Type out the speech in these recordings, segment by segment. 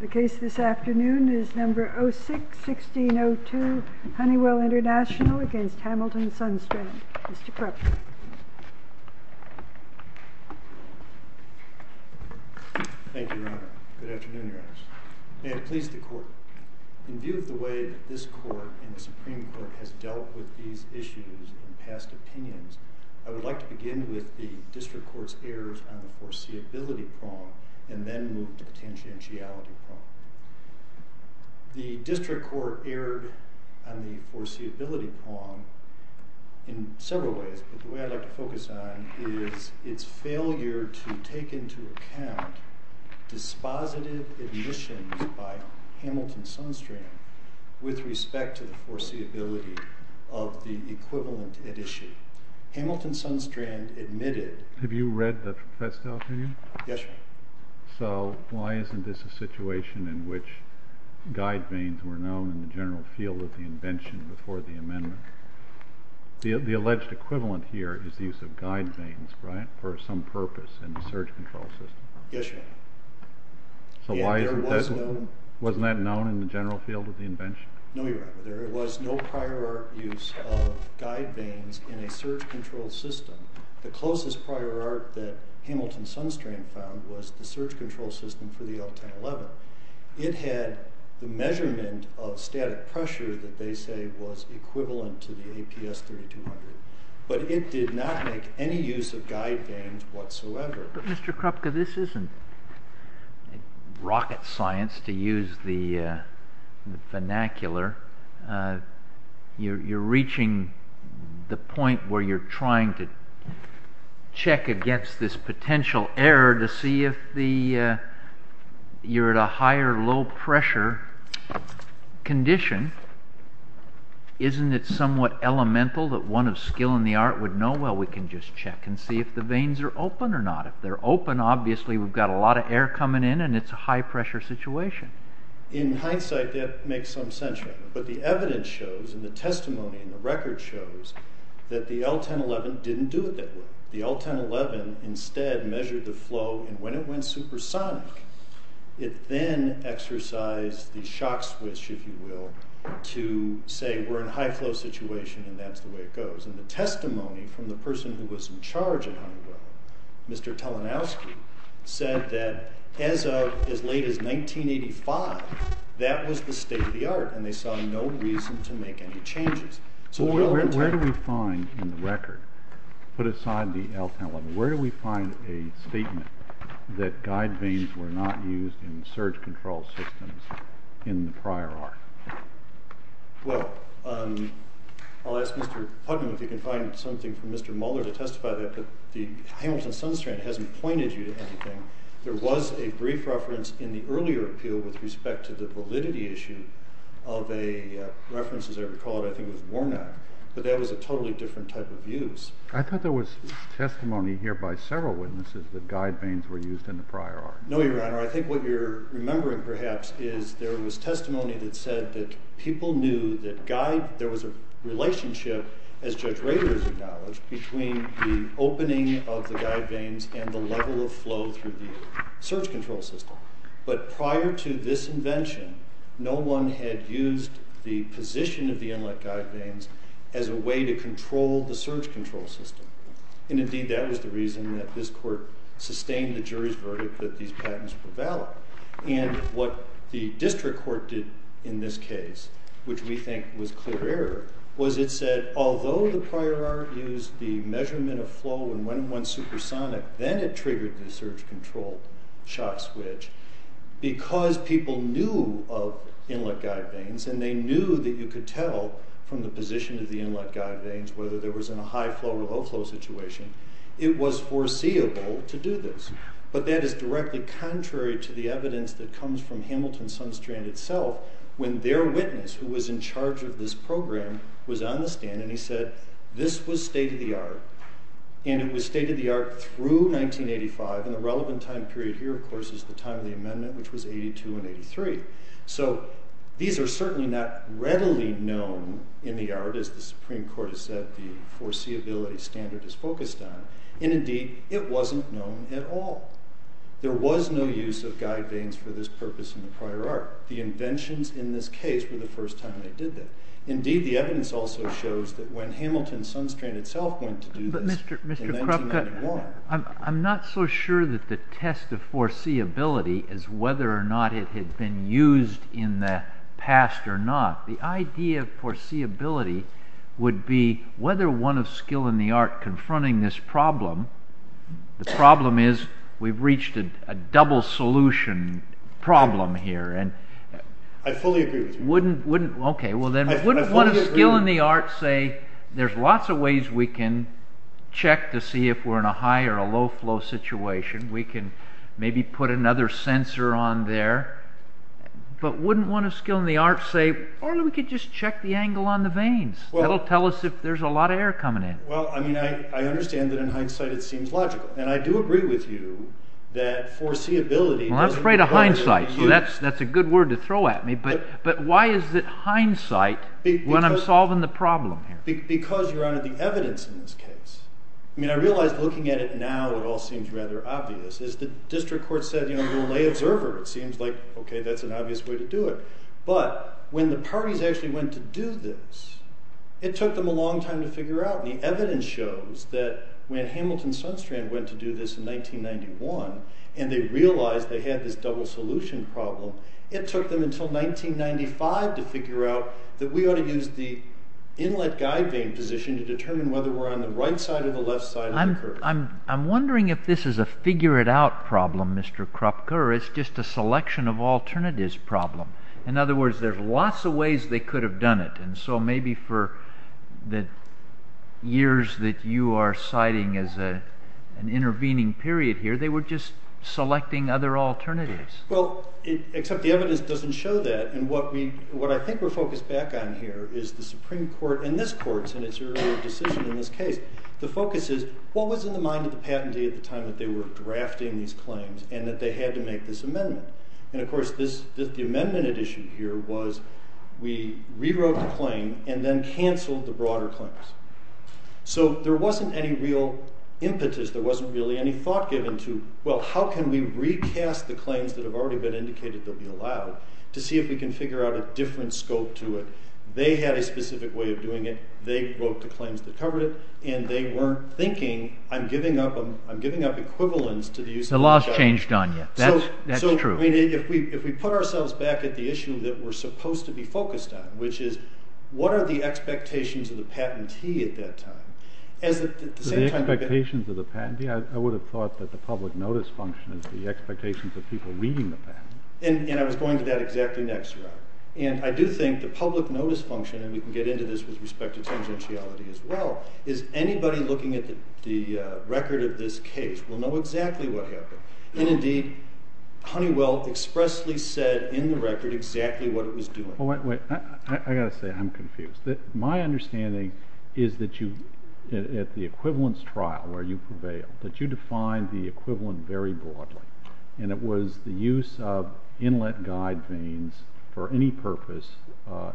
The case this afternoon is No. 06-1602, Honeywell Intl v. Hamilton Sundstran Mr. Krupp Thank you, Your Honor. Good afternoon, Your Honors. May it please the Court, in view of the way that this Court and the Supreme Court has dealt with these issues and past opinions, I would like to begin with the District Court's errors on the foreseeability prong and then move to the tangentiality prong. The District Court erred on the foreseeability prong in several ways, but the way I'd like to focus on is its failure to take into account dispositive admissions by Hamilton Sundstran with respect to the foreseeability of the equivalent at issue. Hamilton Sundstran admitted... Have you read the press release? Yes, Your Honor. So, why isn't this a situation in which guide vanes were known in the general field of the invention before the amendment? The alleged equivalent here is the use of guide vanes, right, for some purpose in the surge control system? Yes, Your Honor. So, why isn't that... Yeah, there was no... Wasn't that known in the general field of the invention? No, Your Honor. There was no prior art use of guide vanes in a surge control system. The closest prior art that Hamilton Sundstran found was the surge control system for the L-1011. It had the measurement of static pressure that they say was equivalent to the APS-3200, but it did not make any use of guide vanes whatsoever. But, Mr. Krupka, this isn't rocket science, to use the vernacular. You're reaching the point where you're trying to check against this potential error to see if you're at a higher low-pressure condition. Isn't it somewhat elemental that one of skill in the art would know? Well, we can just check and see if the vanes are open or not. If they're open, obviously we've got a lot of air coming in, and it's a high-pressure situation. In hindsight, that makes some sense, Your Honor. But the evidence shows and the testimony and the record shows that the L-1011 didn't do it that way. The L-1011 instead measured the flow, and when it went supersonic, it then exercised the shock switch, if you will, to say we're in a high-flow situation and that's the way it goes. And the testimony from the person who was in charge at Honeywell, Mr. Talenowski, said that as of as late as 1985, that was the state of the art, and they saw no reason to make any changes. Where do we find in the record, put aside the L-1011, where do we find a statement that guide vanes were not used in surge control systems in the prior art? Well, I'll ask Mr. Putnam if he can find something from Mr. Mohler to testify that the Hamilton-Sunstrand hasn't pointed you to anything. There was a brief reference in the earlier appeal with respect to the validity issue of a reference, as I recall it, I think it was Warnock, but that was a totally different type of use. I thought there was testimony here by several witnesses that guide vanes were used in the prior art. No, Your Honor. I think what you're remembering, perhaps, is there was testimony that said that people knew that there was a relationship, as Judge Raylors acknowledged, between the opening of the guide vanes and the level of flow through the surge control system. But prior to this invention, no one had used the position of the inlet guide vanes as a way to control the surge control system. And indeed, that was the reason that this court sustained the jury's verdict that these patents were valid. And what the district court did in this case, which we think was clear error, was it said, although the prior art used the measurement of flow and went in one supersonic, then it triggered the surge control shock switch. Because people knew of inlet guide vanes, and they knew that you could tell from the position of the inlet guide vanes whether there was a high flow or low flow situation, it was foreseeable to do this. But that is directly contrary to the evidence that comes from Hamilton Sunstrand itself, when their witness, who was in charge of this program, was on the stand and he said, this was state-of-the-art, and it was state-of-the-art through 1985, and the relevant time period here, of course, is the time of the amendment, which was 82 and 83. So these are certainly not readily known in the art, as the Supreme Court has said the foreseeability standard is focused on. And indeed, it wasn't known at all. There was no use of guide vanes for this purpose in the prior art. The inventions in this case were the first time they did that. Indeed, the evidence also shows that when Hamilton Sunstrand itself went to do this, But Mr. Kropka, I'm not so sure that the test of foreseeability is whether or not it had been used in the past or not. The idea of foreseeability would be whether one of skill and the art confronting this problem, the problem is we've reached a double solution problem here, I fully agree with you. Okay, well then, wouldn't one of skill and the art say, there's lots of ways we can check to see if we're in a high or a low flow situation. We can maybe put another sensor on there. But wouldn't one of skill and the art say, or we could just check the angle on the vanes. That'll tell us if there's a lot of air coming in. Well, I mean, I understand that in hindsight it seems logical. And I do agree with you that foreseeability doesn't... I'm afraid of hindsight, so that's a good word to throw at me. But why is it hindsight when I'm solving the problem here? Because, Your Honor, the evidence in this case. I mean, I realize looking at it now it all seems rather obvious. As the district court said, you know, we'll lay observer. It seems like, okay, that's an obvious way to do it. But when the parties actually went to do this, it took them a long time to figure out. And the evidence shows that when Hamilton Sunstrand went to do this in 1991, and they realized they had this double solution problem, it took them until 1995 to figure out that we ought to use the inlet guide vane position to determine whether we're on the right side or the left side of the curve. I'm wondering if this is a figure-it-out problem, Mr. Kropke, or it's just a selection of alternatives problem. In other words, there's lots of ways they could have done it. And so maybe for the years that you are citing as an intervening period here, they were just selecting other alternatives. Well, except the evidence doesn't show that. And what I think we're focused back on here is the Supreme Court and this court in its earlier decision in this case. The focus is what was in the mind of the patentee at the time that they were drafting these claims and that they had to make this amendment. And, of course, the amendment at issue here was we rewrote the claim and then canceled the broader claims. So there wasn't any real impetus. There wasn't really any thought given to, well, how can we recast the claims that have already been indicated they'll be allowed to see if we can figure out a different scope to it. They had a specific way of doing it. They wrote the claims that covered it, and they weren't thinking, I'm giving up equivalence to the use of the inlet guide vane. The law's changed on you. That's true. So if we put ourselves back at the issue that we're supposed to be focused on, which is what are the expectations of the patentee at that time? The expectations of the patentee? I would have thought that the public notice function is the expectations of people reading the patent. And I was going to that exactly next, Rob. And I do think the public notice function, and we can get into this with respect to tangentiality as well, is anybody looking at the record of this case will know exactly what happened. And, indeed, Honeywell expressly said in the record exactly what it was doing. Wait, wait. I've got to say I'm confused. My understanding is that at the equivalence trial where you prevailed, that you defined the equivalent very broadly, and it was the use of inlet guide vanes for any purpose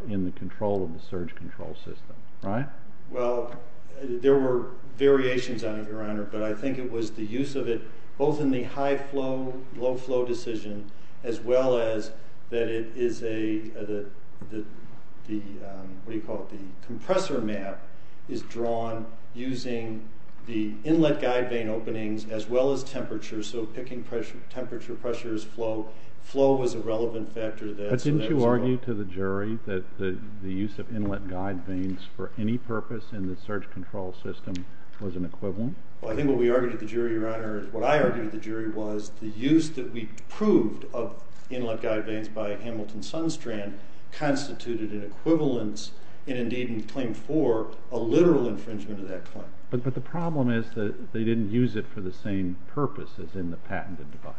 in the control of the surge control system, right? Well, there were variations on it, Your Honor, but I think it was the use of it both in the high flow, low flow decision, as well as that it is a, what do you call it, the compressor map is drawn using the inlet guide vane openings as well as temperature, so picking temperature, pressures, flow. Flow was a relevant factor to that. But didn't you argue to the jury that the use of inlet guide vanes for any purpose in the surge control system was an equivalent? What I argued to the jury was the use that we proved of inlet guide vanes by Hamilton Sundstrand constituted an equivalence and, indeed, in Claim 4, a literal infringement of that claim. But the problem is that they didn't use it for the same purpose as in the patented device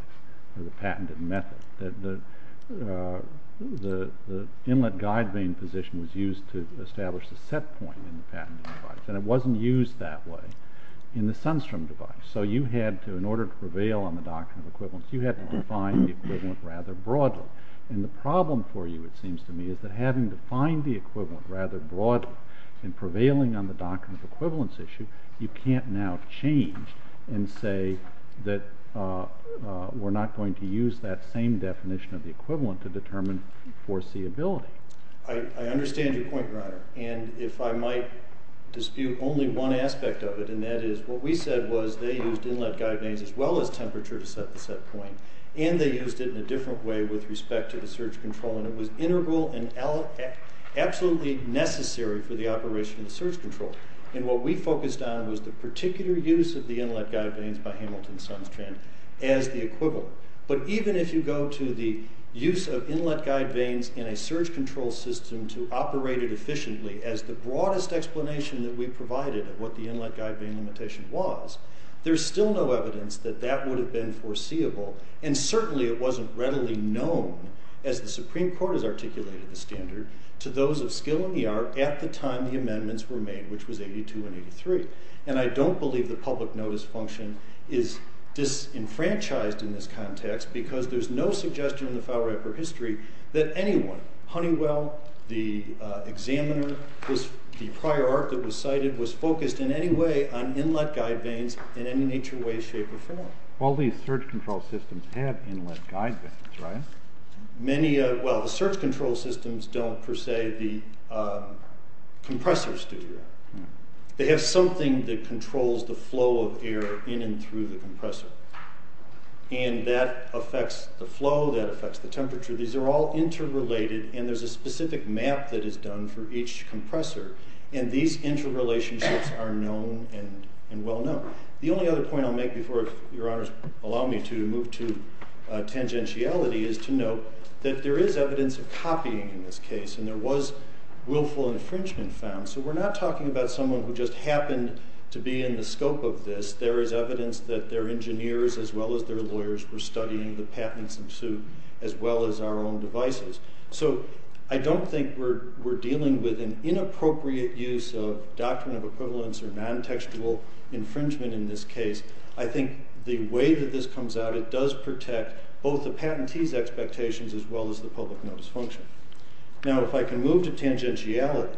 or the patented method. The inlet guide vane position was used to establish the set point in the patented device, and it wasn't used that way in the Sundstrom device. So you had to, in order to prevail on the doctrine of equivalence, you had to define the equivalent rather broadly. And the problem for you, it seems to me, is that having defined the equivalent rather broadly and prevailing on the doctrine of equivalence issue, you can't now change and say that we're not going to use that same definition of the equivalent to determine foreseeability. I understand your point, Reiner. And if I might dispute only one aspect of it, and that is what we said was they used inlet guide vanes as well as temperature to set the set point, and they used it in a different way with respect to the surge control, and it was integral and absolutely necessary for the operation of surge control. And what we focused on was the particular use of the inlet guide vanes by Hamilton Sundstrand as the equivalent. But even if you go to the use of inlet guide vanes in a surge control system to operate it efficiently as the broadest explanation that we provided of what the inlet guide vane limitation was, there's still no evidence that that would have been foreseeable, and certainly it wasn't readily known, as the Supreme Court has articulated the standard, to those of skill in the art at the time the amendments were made, which was 82 and 83. And I don't believe the public notice function is disenfranchised in this context because there's no suggestion in the Fowler-Epper history that anyone, Honeywell, the examiner, the prior art that was cited, was focused in any way on inlet guide vanes in any nature, way, shape, or form. All these surge control systems have inlet guide vanes, right? Well, the surge control systems don't, per se, the compressors do that. They have something that controls the flow of air in and through the compressor, and that affects the flow, that affects the temperature. These are all interrelated, and there's a specific map that is done for each compressor, and these interrelationships are known and well known. The only other point I'll make before your honors allow me to move to tangentiality is to note that there is evidence of copying in this case, and there was willful infringement found. So we're not talking about someone who just happened to be in the scope of this. There is evidence that their engineers, as well as their lawyers, were studying the patents in suit, as well as our own devices. So I don't think we're dealing with an inappropriate use of doctrine of equivalence or non-textual infringement in this case. I think the way that this comes out, it does protect both the patentee's expectations as well as the public notice function. Now, if I can move to tangentiality,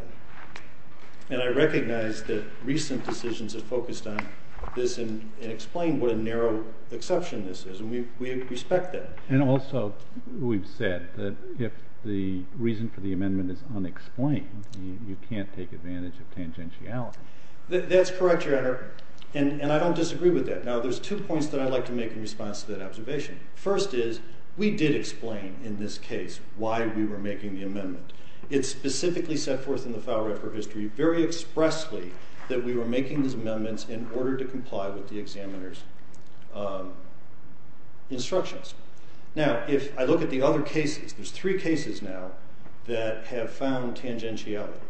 and I recognize that recent decisions have focused on this and explained what a narrow exception this is, and we respect that. And also, we've said that if the reason for the amendment is unexplained, you can't take advantage of tangentiality. That's correct, your honor, and I don't disagree with that. Now, there's two points that I'd like to make in response to that observation. First is, we did explain in this case why we were making the amendment. It's specifically set forth in the file record of history very expressly that we were making these amendments in order to comply with the examiner's instructions. Now, if I look at the other cases, there's three cases now that have found tangentiality.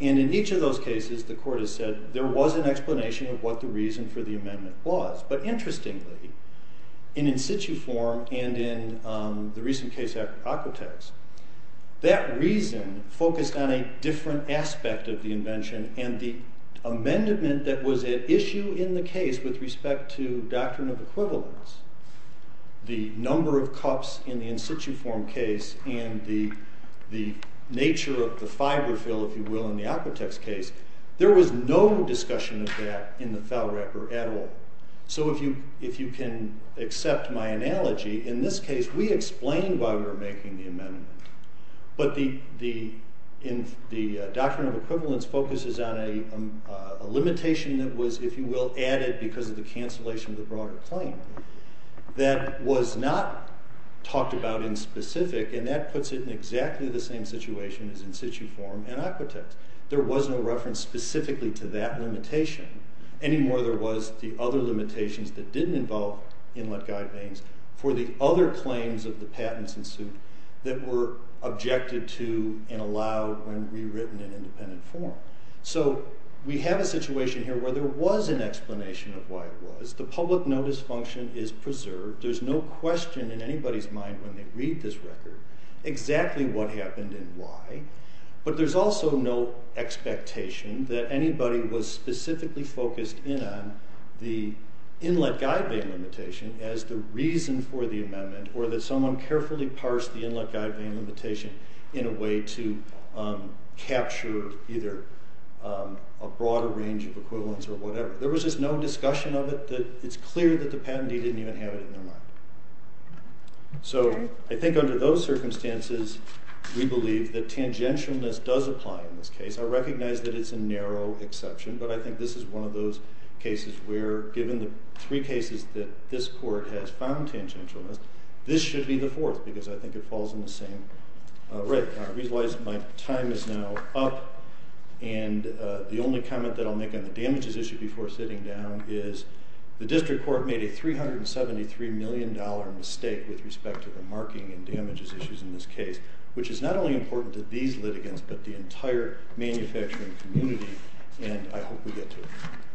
And in each of those cases, the court has said, there was an explanation of what the reason for the amendment was. But interestingly, in in situ form and in the recent case of Aquitax, that reason focused on a different aspect of the invention and the amendment that was at issue in the case with respect to doctrine of equivalence, the number of cups in the in situ form case, and the nature of the fiber fill, if you will, in the Aquitax case. There was no discussion of that in the file record at all. So if you can accept my analogy, in this case, we explained why we were making the amendment. But the doctrine of equivalence focuses on a limitation that was, if you will, added because of the cancellation of the broader claim. That was not talked about in specific, and that puts it in exactly the same situation as in situ form and Aquitax. There was no reference specifically to that limitation. Any more there was the other limitations that didn't involve inlet guide vanes for the other claims of the patents in situ that were objected to and allowed when rewritten in independent form. So we have a situation here where there was an explanation of why it was. The public notice function is preserved. There's no question in anybody's mind when they read this record exactly what happened and why. But there's also no expectation that anybody was specifically focused in on the inlet guide vane limitation as the reason for the amendment or that someone carefully parsed the inlet guide vane limitation in a way to capture either a broader range of equivalents or whatever. There was just no discussion of it. It's clear that the patentee didn't even have it in their mind. So I think under those circumstances, we believe that tangentialness does apply in this case. I recognize that it's a narrow exception, but I think this is one of those cases where given the three cases that this court has found tangentialness, this should be the fourth because I think it falls in the same rate. I realize my time is now up, and the only comment that I'll make on the damages issue before sitting down is the district court made a $373 million mistake with respect to the marking and damages issues in this case, which is not only important to these litigants but the entire manufacturing community. And I hope we get to it.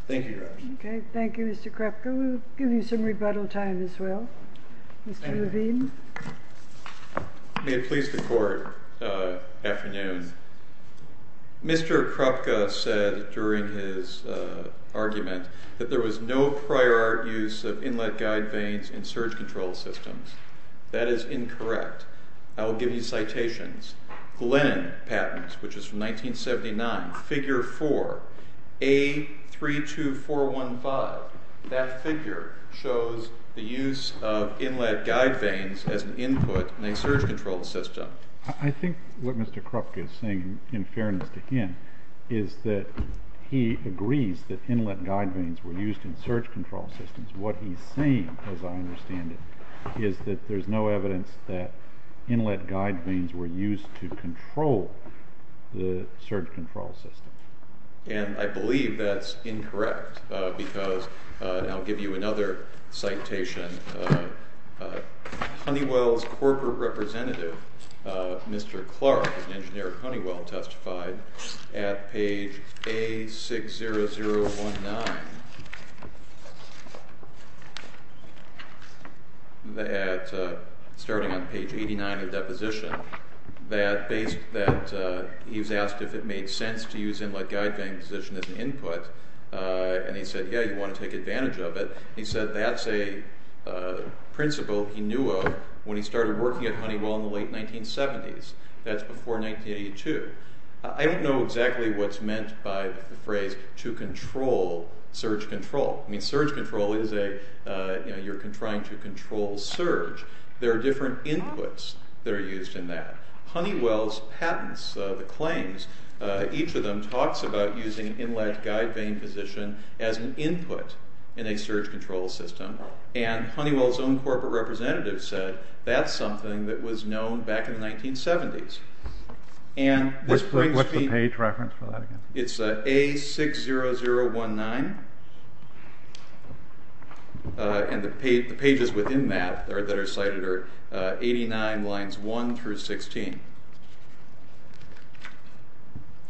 Thank you, Your Honor. Okay. Thank you, Mr. Kropka. We'll give you some rebuttal time as well. Mr. Levine. May it please the court, afternoon. Mr. Kropka said during his argument that there was no prior use of inlet guide vanes in surge control systems. That is incorrect. I will give you citations. Glenn patents, which is from 1979, figure 4, A32415, that figure shows the use of inlet guide vanes as an input in a surge control system. I think what Mr. Kropka is saying, in fairness to him, is that he agrees that inlet guide vanes were used in surge control systems. What he's saying, as I understand it, is that there's no evidence that inlet guide vanes were used to control the surge control system. And I believe that's incorrect because I'll give you another citation. Honeywell's corporate representative, Mr. Clark, an engineer at Honeywell, testified at page A60019, starting on page 89 of the deposition, that he was asked if it made sense to use inlet guide vanes as an input. And he said, yeah, you want to take advantage of it. He said that's a principle he knew of when he started working at Honeywell in the late 1970s. That's before 1982. I don't know exactly what's meant by the phrase, to control surge control. I mean, surge control is a, you're trying to control surge. There are different inputs that are used in that. Honeywell's patents, the claims, each of them talks about using inlet guide vane position as an input in a surge control system. And Honeywell's own corporate representative said that's something that was known back in the 1970s. And this brings me... What's the page reference for that again? It's A60019. And the pages within that that are cited are 89 lines 1 through 16.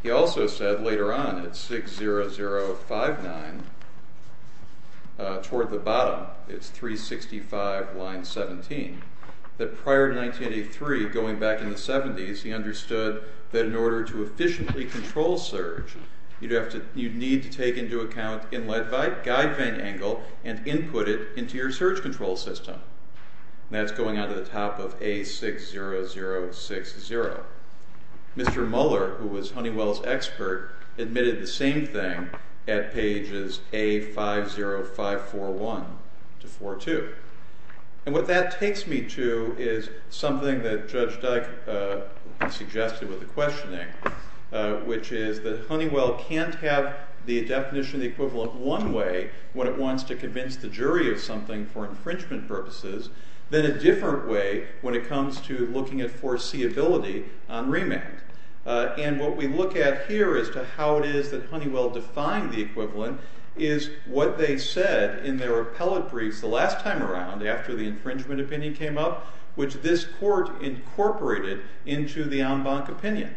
He also said later on at 60059, toward the bottom, it's 365 line 17, that prior to 1983, going back in the 70s, he understood that in order to efficiently control surge, you'd need to take into account inlet guide vane angle and input it into your surge control system. And that's going on to the top of A60060. Mr. Muller, who was Honeywell's expert, admitted the same thing at pages A50541 to 42. And what that takes me to is something that Judge Dyke suggested with the questioning, which is that Honeywell can't have the definition of the equivalent one way, when it wants to convince the jury of something for infringement purposes, than a different way when it comes to looking at foreseeability on remand. And what we look at here as to how it is that Honeywell defined the equivalent is what they said in their appellate briefs the last time around, after the infringement opinion came up, which this court incorporated into the en banc opinion.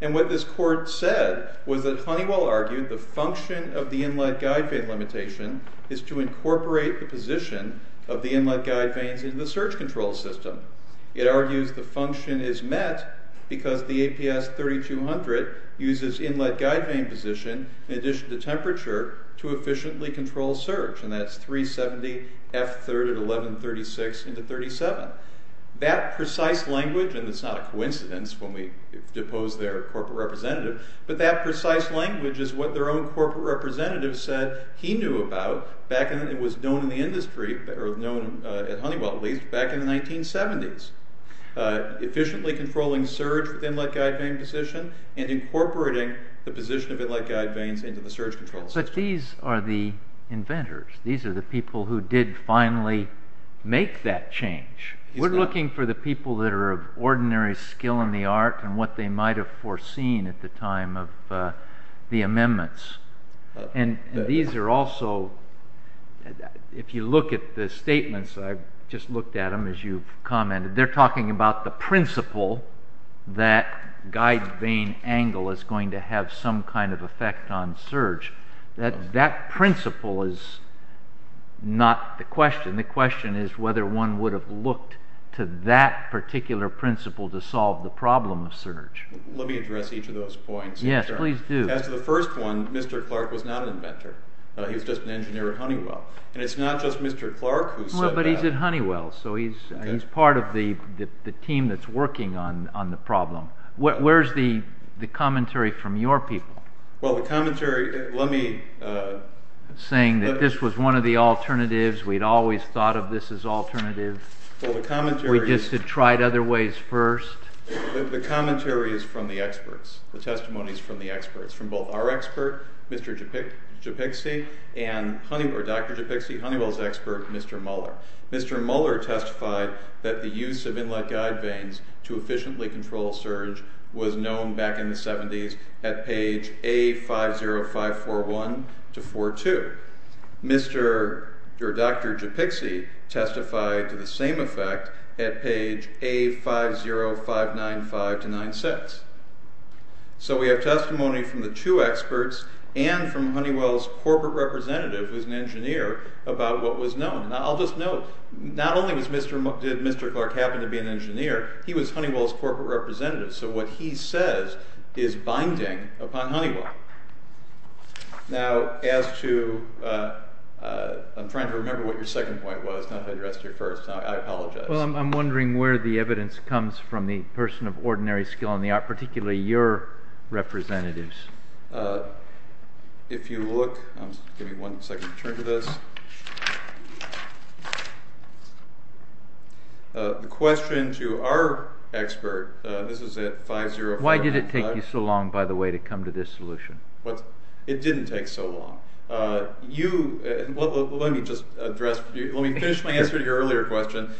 And what this court said was that Honeywell argued the function of the inlet guide vane limitation is to incorporate the position of the inlet guide vanes into the surge control system. It argues the function is met because the APS3200 uses inlet guide vane position in addition to temperature to efficiently control surge. And that's 370F31136x37. That precise language, and it's not a coincidence when we depose their corporate representative, but that precise language is what their own corporate representative said he knew about back when it was known in the industry, or known at Honeywell at least, back in the 1970s. Efficiently controlling surge with inlet guide vane position, and incorporating the position of inlet guide vanes into the surge control system. But these are the inventors. These are the people who did finally make that change. We're looking for the people that are of ordinary skill in the art, and what they might have foreseen at the time of the amendments. And these are also, if you look at the statements, I've just looked at them as you've commented, they're talking about the principle that guide vane angle is going to have some kind of effect on surge. That principle is not the question. The question is whether one would have looked to that particular principle to solve the problem of surge. Let me address each of those points. Yes, please do. As to the first one, Mr. Clark was not an inventor. He was just an engineer at Honeywell. And it's not just Mr. Clark who said that. But he's at Honeywell, so he's part of the team that's working on the problem. Where's the commentary from your people? Well, the commentary, let me... Saying that this was one of the alternatives, we'd always thought of this as alternative. We just had tried other ways first. The commentary is from the experts. The testimony is from the experts. From both our expert, Mr. Gepikse, and Dr. Gepikse, Honeywell's expert, Mr. Muller. Mr. Muller testified that the use of inlet guide vanes to efficiently control surge was known back in the 70s at page A50541-42. Dr. Gepikse testified to the same effect at page A50595-96. So we have testimony from the two experts and from Honeywell's corporate representative, who's an engineer, about what was known. I'll just note, not only did Mr. Clark happen to be an engineer, he was Honeywell's corporate representative. So what he says is binding upon Honeywell. Now, as to... I'm trying to remember what your second point was, not how you addressed your first. I apologize. Well, I'm wondering where the evidence comes from the person of ordinary skill in the art, particularly your representatives. If you look... Give me one second to turn to this. The question to our expert, this is at 505... Why did it take you so long, by the way, to come to this solution? It didn't take so long. You... Let me just address... Let me finish my answer to your earlier question.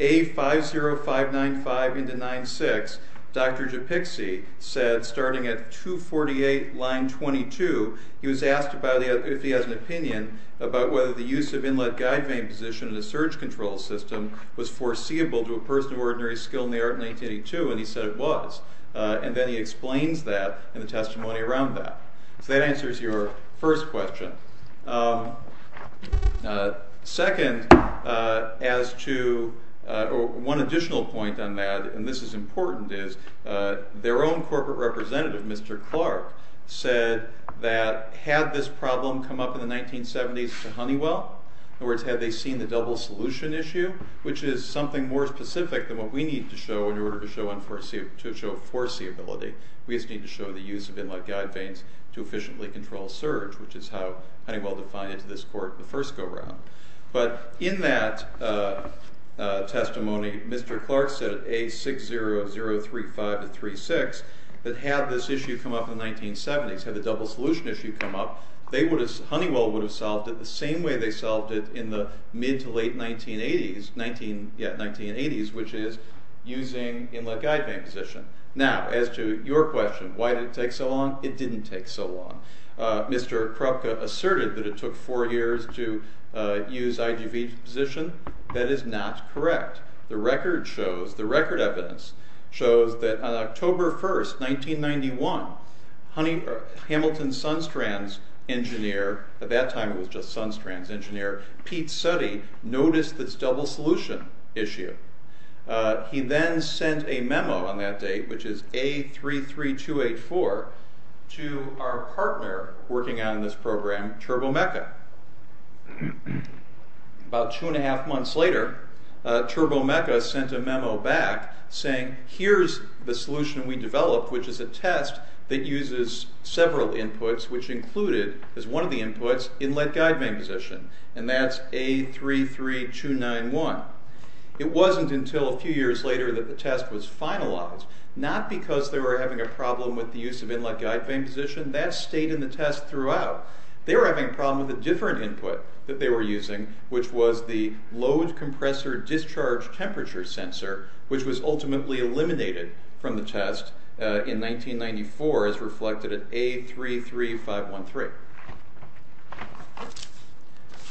A50595-96, Dr. Gepikse said, starting at 248 line 22, he was asked if he has an opinion about whether the use of inlet guide vane position in a surge control system was foreseeable to a person of ordinary skill in the art in 1982, and he said it was. And then he explains that in the testimony around that. So that answers your first question. Second, as to... One additional point on that, and this is important, is their own corporate representative, Mr. Clark, said that had this problem come up in the 1970s to Honeywell... In other words, had they seen the double solution issue, which is something more specific than what we need to show in order to show foreseeability. We just need to show the use of inlet guide vanes to efficiently control surge, which is how Honeywell defined it to this court in the first go-round. But in that testimony, Mr. Clark said at A60035-36, that had this issue come up in the 1970s, had the double solution issue come up, Honeywell would have solved it the same way they solved it in the mid to late 1980s, which is using inlet guide vane position. Now, as to your question, why did it take so long? It didn't take so long. Mr. Krupka asserted that it took four years to use IGV position. That is not correct. The record shows, the record evidence shows that on October 1st, 1991, Hamilton Sunstrand's engineer, at that time it was just Sunstrand's engineer, Pete Suttie, noticed this double solution issue. He then sent a memo on that date, which is A33284, to our partner working on this program, Turbomeca. About two and a half months later, Turbomeca sent a memo back saying, here's the solution we developed, which is a test that uses several inputs, which included, as one of the inputs, inlet guide vane position. And that's A33291. It wasn't until a few years later that the test was finalized, not because they were having a problem with the use of inlet guide vane position. That stayed in the test throughout. They were having a problem with a different input that they were using, which was the load compressor discharge temperature sensor, which was ultimately eliminated from the test in 1994 as reflected at A33513.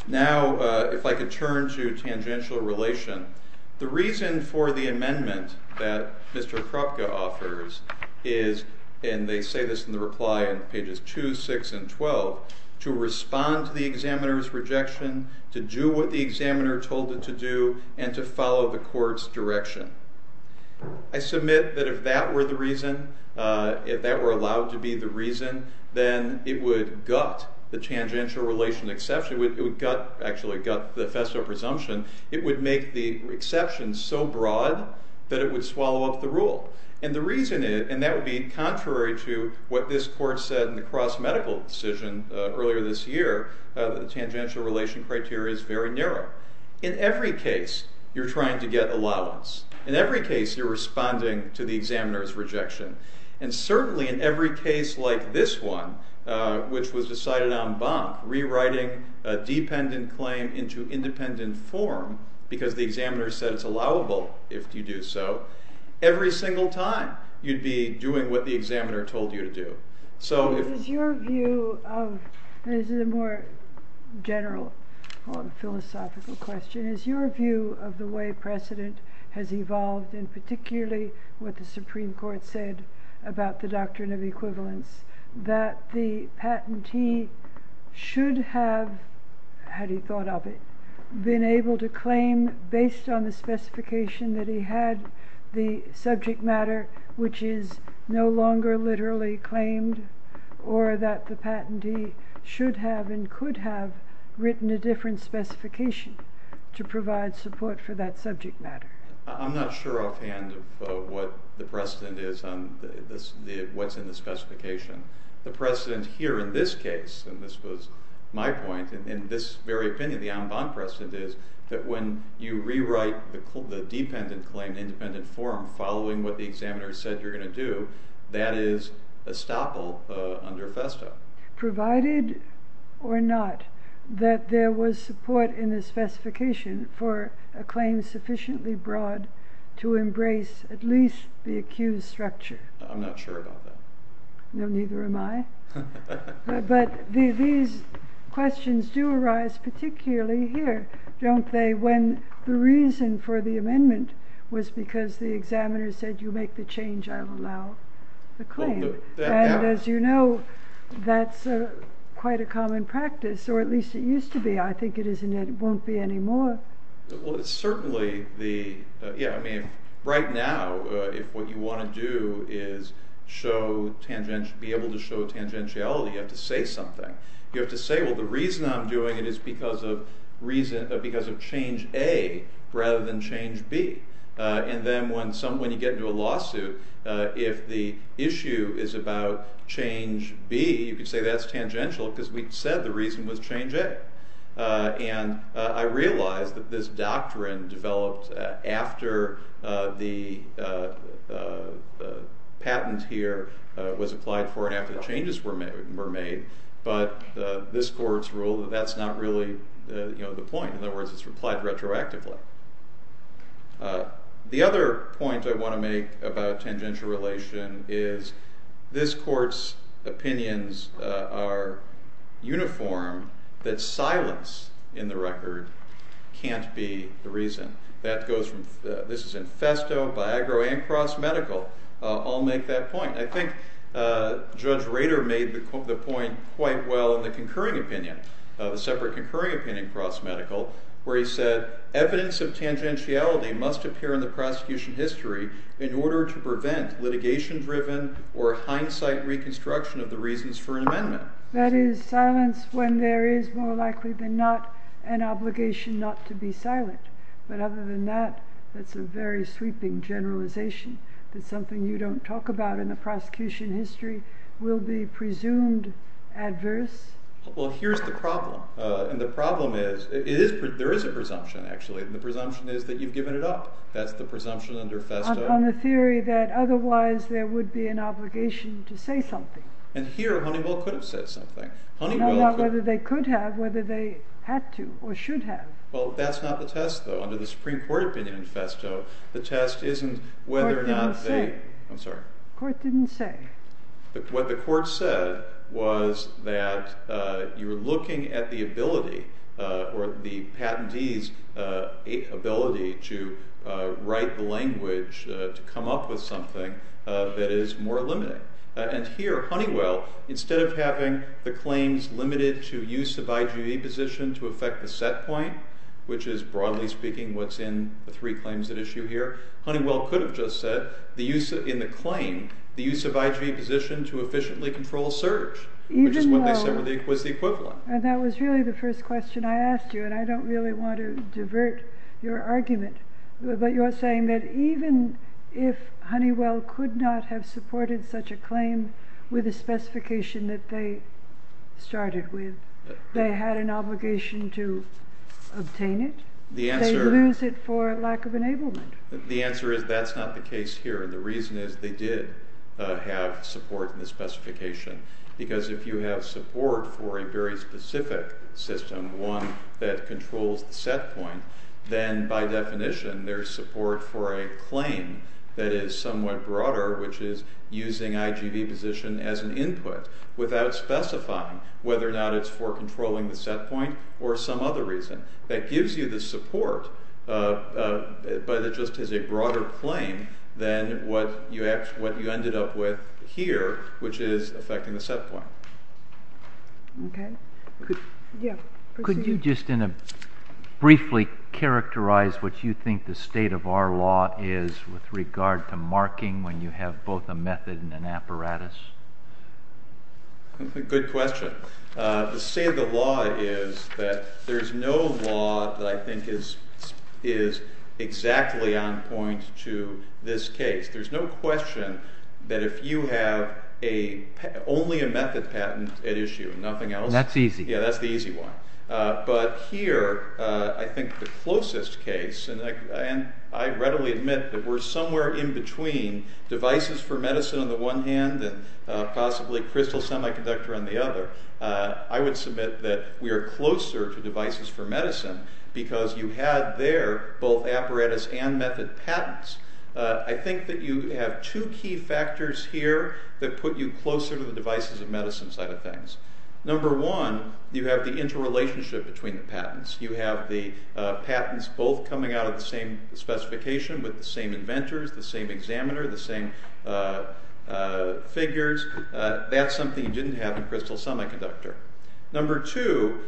Now, if I could turn to tangential relation. The reason for the amendment that Mr. Kropka offers is, and they say this in the reply in pages 2, 6, and 12, to respond to the examiner's rejection, to do what the examiner told it to do, and to follow the court's direction. I submit that if that were the reason, if that were allowed to be the reason, then it would gut the tangential relation exception. It would gut, actually gut the FESSO presumption. It would make the exception so broad that it would swallow up the rule. And the reason is, and that would be contrary to what this court said in the cross-medical decision earlier this year, the tangential relation criteria is very narrow. In every case, you're trying to get allowance. In every case, you're responding to the examiner's rejection. And certainly in every case like this one, which was decided en banc, rewriting a dependent claim into independent form, because the examiner said it's allowable if you do so, every single time you'd be doing what the examiner told you to do. So is your view of, and this is a more general philosophical question, is your view of the way precedent has evolved, and particularly what the Supreme Court said about the doctrine of equivalence, that the patentee should have, had he thought of it, been able to claim based on the specification that he had the subject matter, which is no longer literally claimed, or that the patentee should have and could have written a different specification to provide support for that subject matter? I'm not sure offhand of what the precedent is on what's in the specification. The precedent here in this case, and this was my point, in this very opinion, the en banc precedent is that when you rewrite the dependent claim in independent form following what the examiner said you're going to do, that is estoppel under FESTA. Provided or not that there was support in the specification for a claim sufficiently broad to embrace at least the accused structure. I'm not sure about that. No, neither am I. But these questions do arise particularly here, don't they? When the reason for the amendment was because the examiner said you make the change, I'll allow the claim. And as you know, that's quite a common practice, or at least it used to be. I think it won't be anymore. Certainly, right now, if what you want to do is be able to show tangentiality, you have to say something. You have to say, well, the reason I'm doing it is because of change A rather than change B. And then when you get into a lawsuit, if the issue is about change B, you could say that's tangential because we said the reason was change A. And I realize that this doctrine developed after the patent here was applied for and after the changes were made. But this court's rule, that's not really the point. In other words, it's applied retroactively. The other point I want to make about tangential relation is this court's opinions are uniform, that silence in the record can't be the reason. This is in Festo, Biagro, and Cross Medical all make that point. I think Judge Rader made the point quite well in the concurring opinion, the separate concurring opinion in Cross Medical, where he said evidence of tangentiality must appear in the prosecution history in order to prevent litigation-driven or hindsight reconstruction of the reasons for an amendment. That is, silence when there is more likely than not an obligation not to be silent. But other than that, that's a very sweeping generalization. That something you don't talk about in the prosecution history will be presumed adverse. Well, here's the problem. And the problem is there is a presumption, actually. And the presumption is that you've given it up. That's the presumption under Festo. On the theory that otherwise there would be an obligation to say something. And here, Honeywell could have said something. Not whether they could have, whether they had to or should have. Well, that's not the test, though. Under the Supreme Court opinion in Festo, the test isn't whether or not they— The court didn't say. I'm sorry. The court didn't say. What the court said was that you were looking at the ability or the patentee's ability to write the language to come up with something that is more limiting. And here, Honeywell, instead of having the claims limited to use of IGV position to affect the set point, which is, broadly speaking, what's in the three claims at issue here, Honeywell could have just said, in the claim, the use of IGV position to efficiently control search, which is what they said was the equivalent. And that was really the first question I asked you. And I don't really want to divert your argument. But you're saying that even if Honeywell could not have supported such a claim with the specification that they started with, they had an obligation to obtain it? They lose it for lack of enablement. The answer is that's not the case here. The reason is they did have support in the specification. Because if you have support for a very specific system, one that controls the set point, then by definition there's support for a claim that is somewhat broader, which is using IGV position as an input without specifying whether or not it's for controlling the set point or some other reason. That gives you the support, but it just is a broader claim than what you ended up with here, which is affecting the set point. Could you just briefly characterize what you think the state of our law is with regard to marking when you have both a method and an apparatus? Good question. The state of the law is that there's no law that I think is exactly on point to this case. There's no question that if you have only a method patent at issue and nothing else. That's easy. Yeah, that's the easy one. But here I think the closest case, and I readily admit that we're somewhere in between devices for medicine on the one hand and possibly crystal semiconductor on the other. I would submit that we are closer to devices for medicine because you had there both apparatus and method patents. I think that you have two key factors here that put you closer to the devices of medicine side of things. Number one, you have the interrelationship between the patents. You have the patents both coming out of the same specification with the same inventors, the same examiner, the same figures. That's something you didn't have in crystal semiconductor. Number two,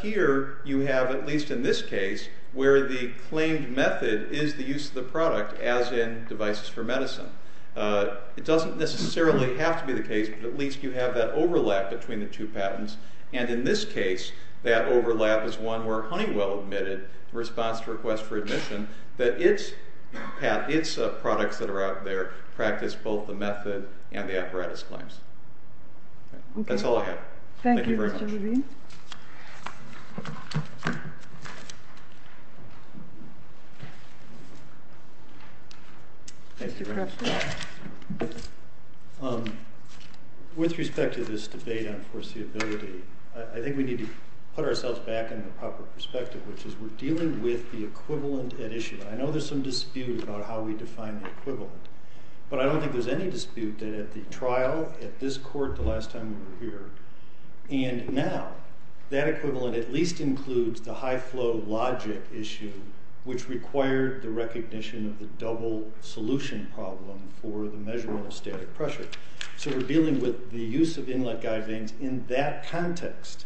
here you have, at least in this case, where the claimed method is the use of the product as in devices for medicine. It doesn't necessarily have to be the case, but at least you have that overlap between the two patents. And in this case, that overlap is one where Honeywell admitted, response to request for admission, that its products that are out there practice both the method and the apparatus claims. That's all I have. Thank you very much. With respect to this debate on foreseeability, I think we need to put ourselves back in the proper perspective, which is we're dealing with the equivalent at issue. I know there's some dispute about how we define the equivalent. But I don't think there's any dispute that at the trial, at this court the last time we were here, and now, that equivalent at least includes the high flow logic issue, which required the recognition of the double solution problem for the measurement of static pressure. So we're dealing with the use of inlet guide vanes in that context.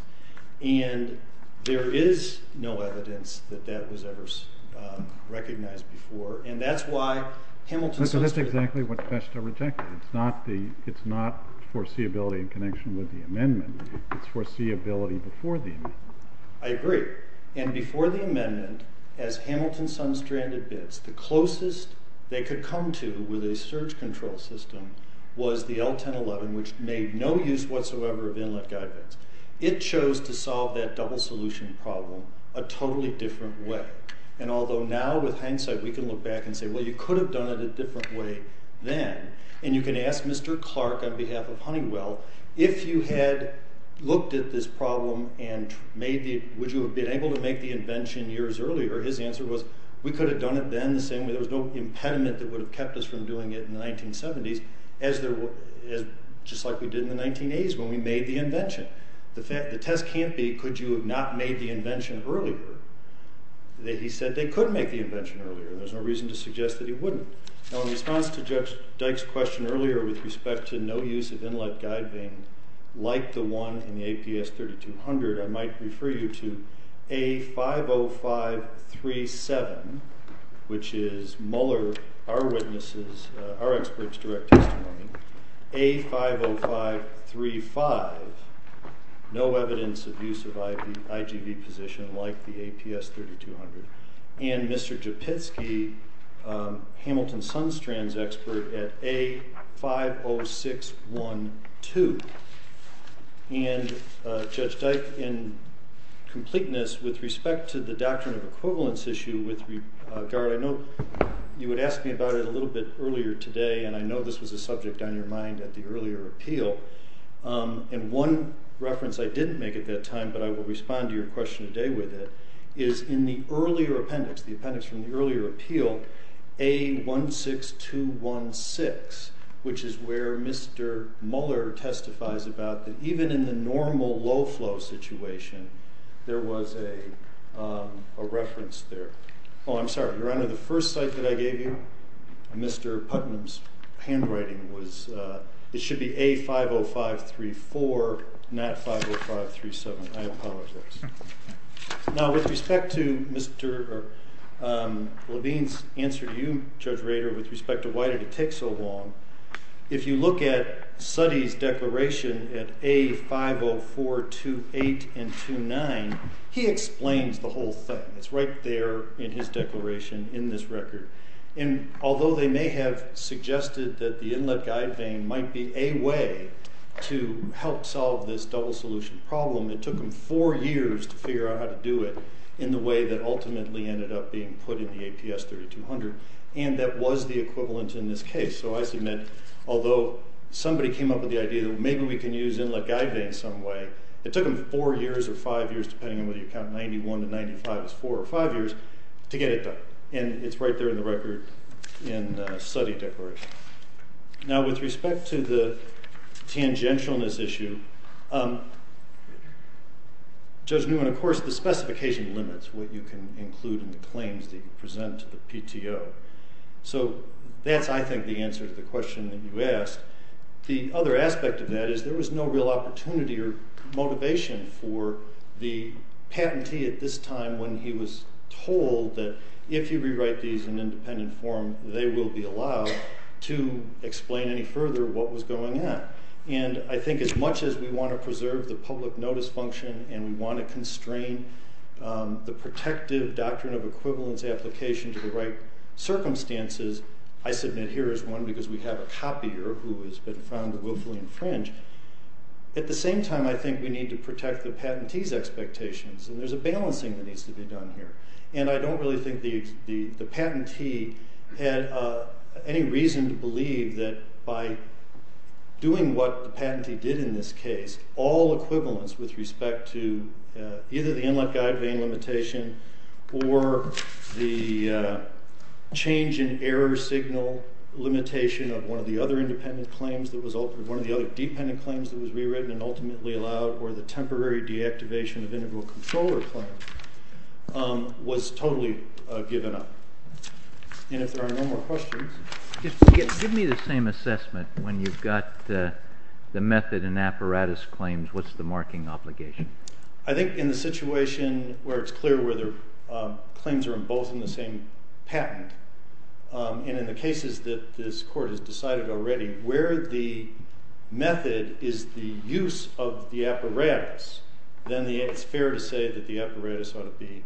And there is no evidence that that was ever recognized before. So that's exactly what Festa rejected. It's not foreseeability in connection with the amendment. It's foreseeability before the amendment. I agree. And before the amendment, as Hamilton Sunstrand admits, the closest they could come to with a surge control system was the L-1011, which made no use whatsoever of inlet guide vanes. It chose to solve that double solution problem a totally different way. And although now with hindsight we can look back and say, well, you could have done it a different way then. And you can ask Mr. Clark on behalf of Honeywell, if you had looked at this problem and would you have been able to make the invention years earlier? His answer was, we could have done it then the same way. There was no impediment that would have kept us from doing it in the 1970s, just like we did in the 1980s when we made the invention. The test can't be, could you have not made the invention earlier? He said they could make the invention earlier. There's no reason to suggest that he wouldn't. Now, in response to Judge Dyke's question earlier with respect to no use of inlet guide vane like the one in the APS 3200, I might refer you to A50537, which is Mueller, our witness's, our expert's direct testimony. A50535, no evidence of use of IGV position like the APS 3200. And Mr. Japitzky, Hamilton Sunstrand's expert at A50612. And Judge Dyke, in completeness with respect to the doctrine of equivalence issue with regard, I know you would ask me about it a little bit earlier today and I know this was a subject on your mind at the earlier appeal. And one reference I didn't make at that time, but I will respond to your question today with it, is in the earlier appendix, the appendix from the earlier appeal, A16216, which is where Mr. Mueller testifies about that even in the normal low flow situation, there was a reference there. Oh, I'm sorry, Your Honor, the first site that I gave you, Mr. Putnam's handwriting was, it should be A50534, not 50537. I apologize. Now, with respect to Mr. Levine's answer to you, Judge Rader, with respect to why did it take so long, if you look at Suttee's declaration at A50428 and 29, he explains the whole thing. It's right there in his declaration in this record. And although they may have suggested that the inlet guide vane might be a way to help solve this double solution problem, it took them four years to figure out how to do it in the way that ultimately ended up being put in the APS3200 and that was the equivalent in this case. So I submit, although somebody came up with the idea that maybe we can use inlet guide vanes some way, it took them four years or five years, depending on whether you count 91 to 95 as four or five years, to get it done. And it's right there in the record in Suttee's declaration. Now, with respect to the tangentialness issue, Judge Newman, of course, the specification limits what you can include in the claims that you present to the PTO. So that's, I think, the answer to the question that you asked. The other aspect of that is there was no real opportunity or motivation for the patentee at this time when he was told that if you rewrite these in independent form, they will be allowed to explain any further what was going on. And I think as much as we want to preserve the public notice function and we want to constrain the protective doctrine of equivalence application to the right circumstances, I submit here is one because we have a copier who has been found to willfully infringe. At the same time, I think we need to protect the patentee's expectations, and there's a balancing that needs to be done here. And I don't really think the patentee had any reason to believe that by doing what the patentee did in this case, all equivalence with respect to either the inlet guide vane limitation or the change in error signal limitation of one of the other independent claims that was altered, one of the other dependent claims that was rewritten and ultimately allowed, or the temporary deactivation of integral controller claims, was totally given up. And if there are no more questions. Give me the same assessment. When you've got the method and apparatus claims, what's the marking obligation? I think in the situation where it's clear whether claims are in both in the same patent, and in the cases that this court has decided already, where the method is the use of the apparatus, then it's fair to say that the apparatus ought to be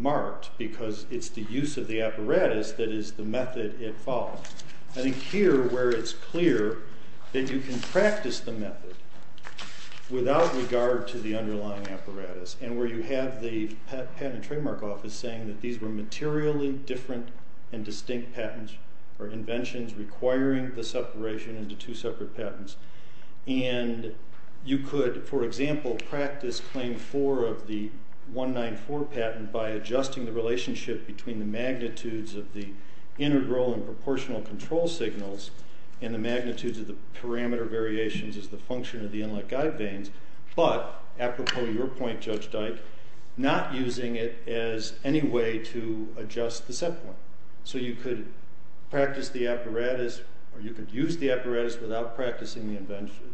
marked because it's the use of the apparatus that is the method it follows. I think here, where it's clear that you can practice the method without regard to the underlying apparatus, and where you have the patent trademark office saying that these were materially different and distinct patents or inventions requiring the separation into two separate patents, and you could, for example, practice Claim 4 of the 194 patent by adjusting the relationship between the magnitudes of the integral and proportional control signals and the magnitudes of the parameter variations as the function of the inlet guide vanes, but, apropos your point, Judge Dyke, not using it as any way to adjust the set point. So you could practice the apparatus, or you could use the apparatus without practicing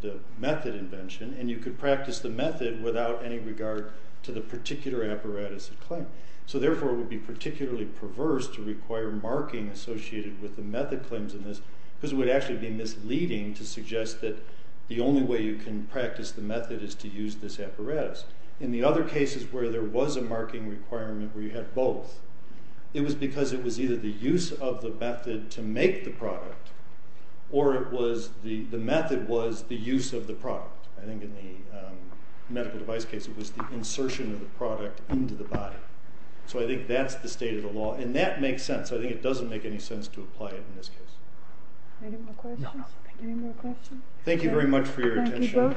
the method invention, and you could practice the method without any regard to the particular apparatus of claim. So, therefore, it would be particularly perverse to require marking associated with the method claims in this, because it would actually be misleading to suggest that the only way you can practice the method is to use this apparatus. In the other cases where there was a marking requirement where you had both, it was because it was either the use of the method to make the product, or it was the method was the use of the product. I think in the medical device case it was the insertion of the product into the body. So I think that's the state of the law, and that makes sense. I think it doesn't make any sense to apply it in this case. Any more questions? Thank you very much for your attention. Thank you both.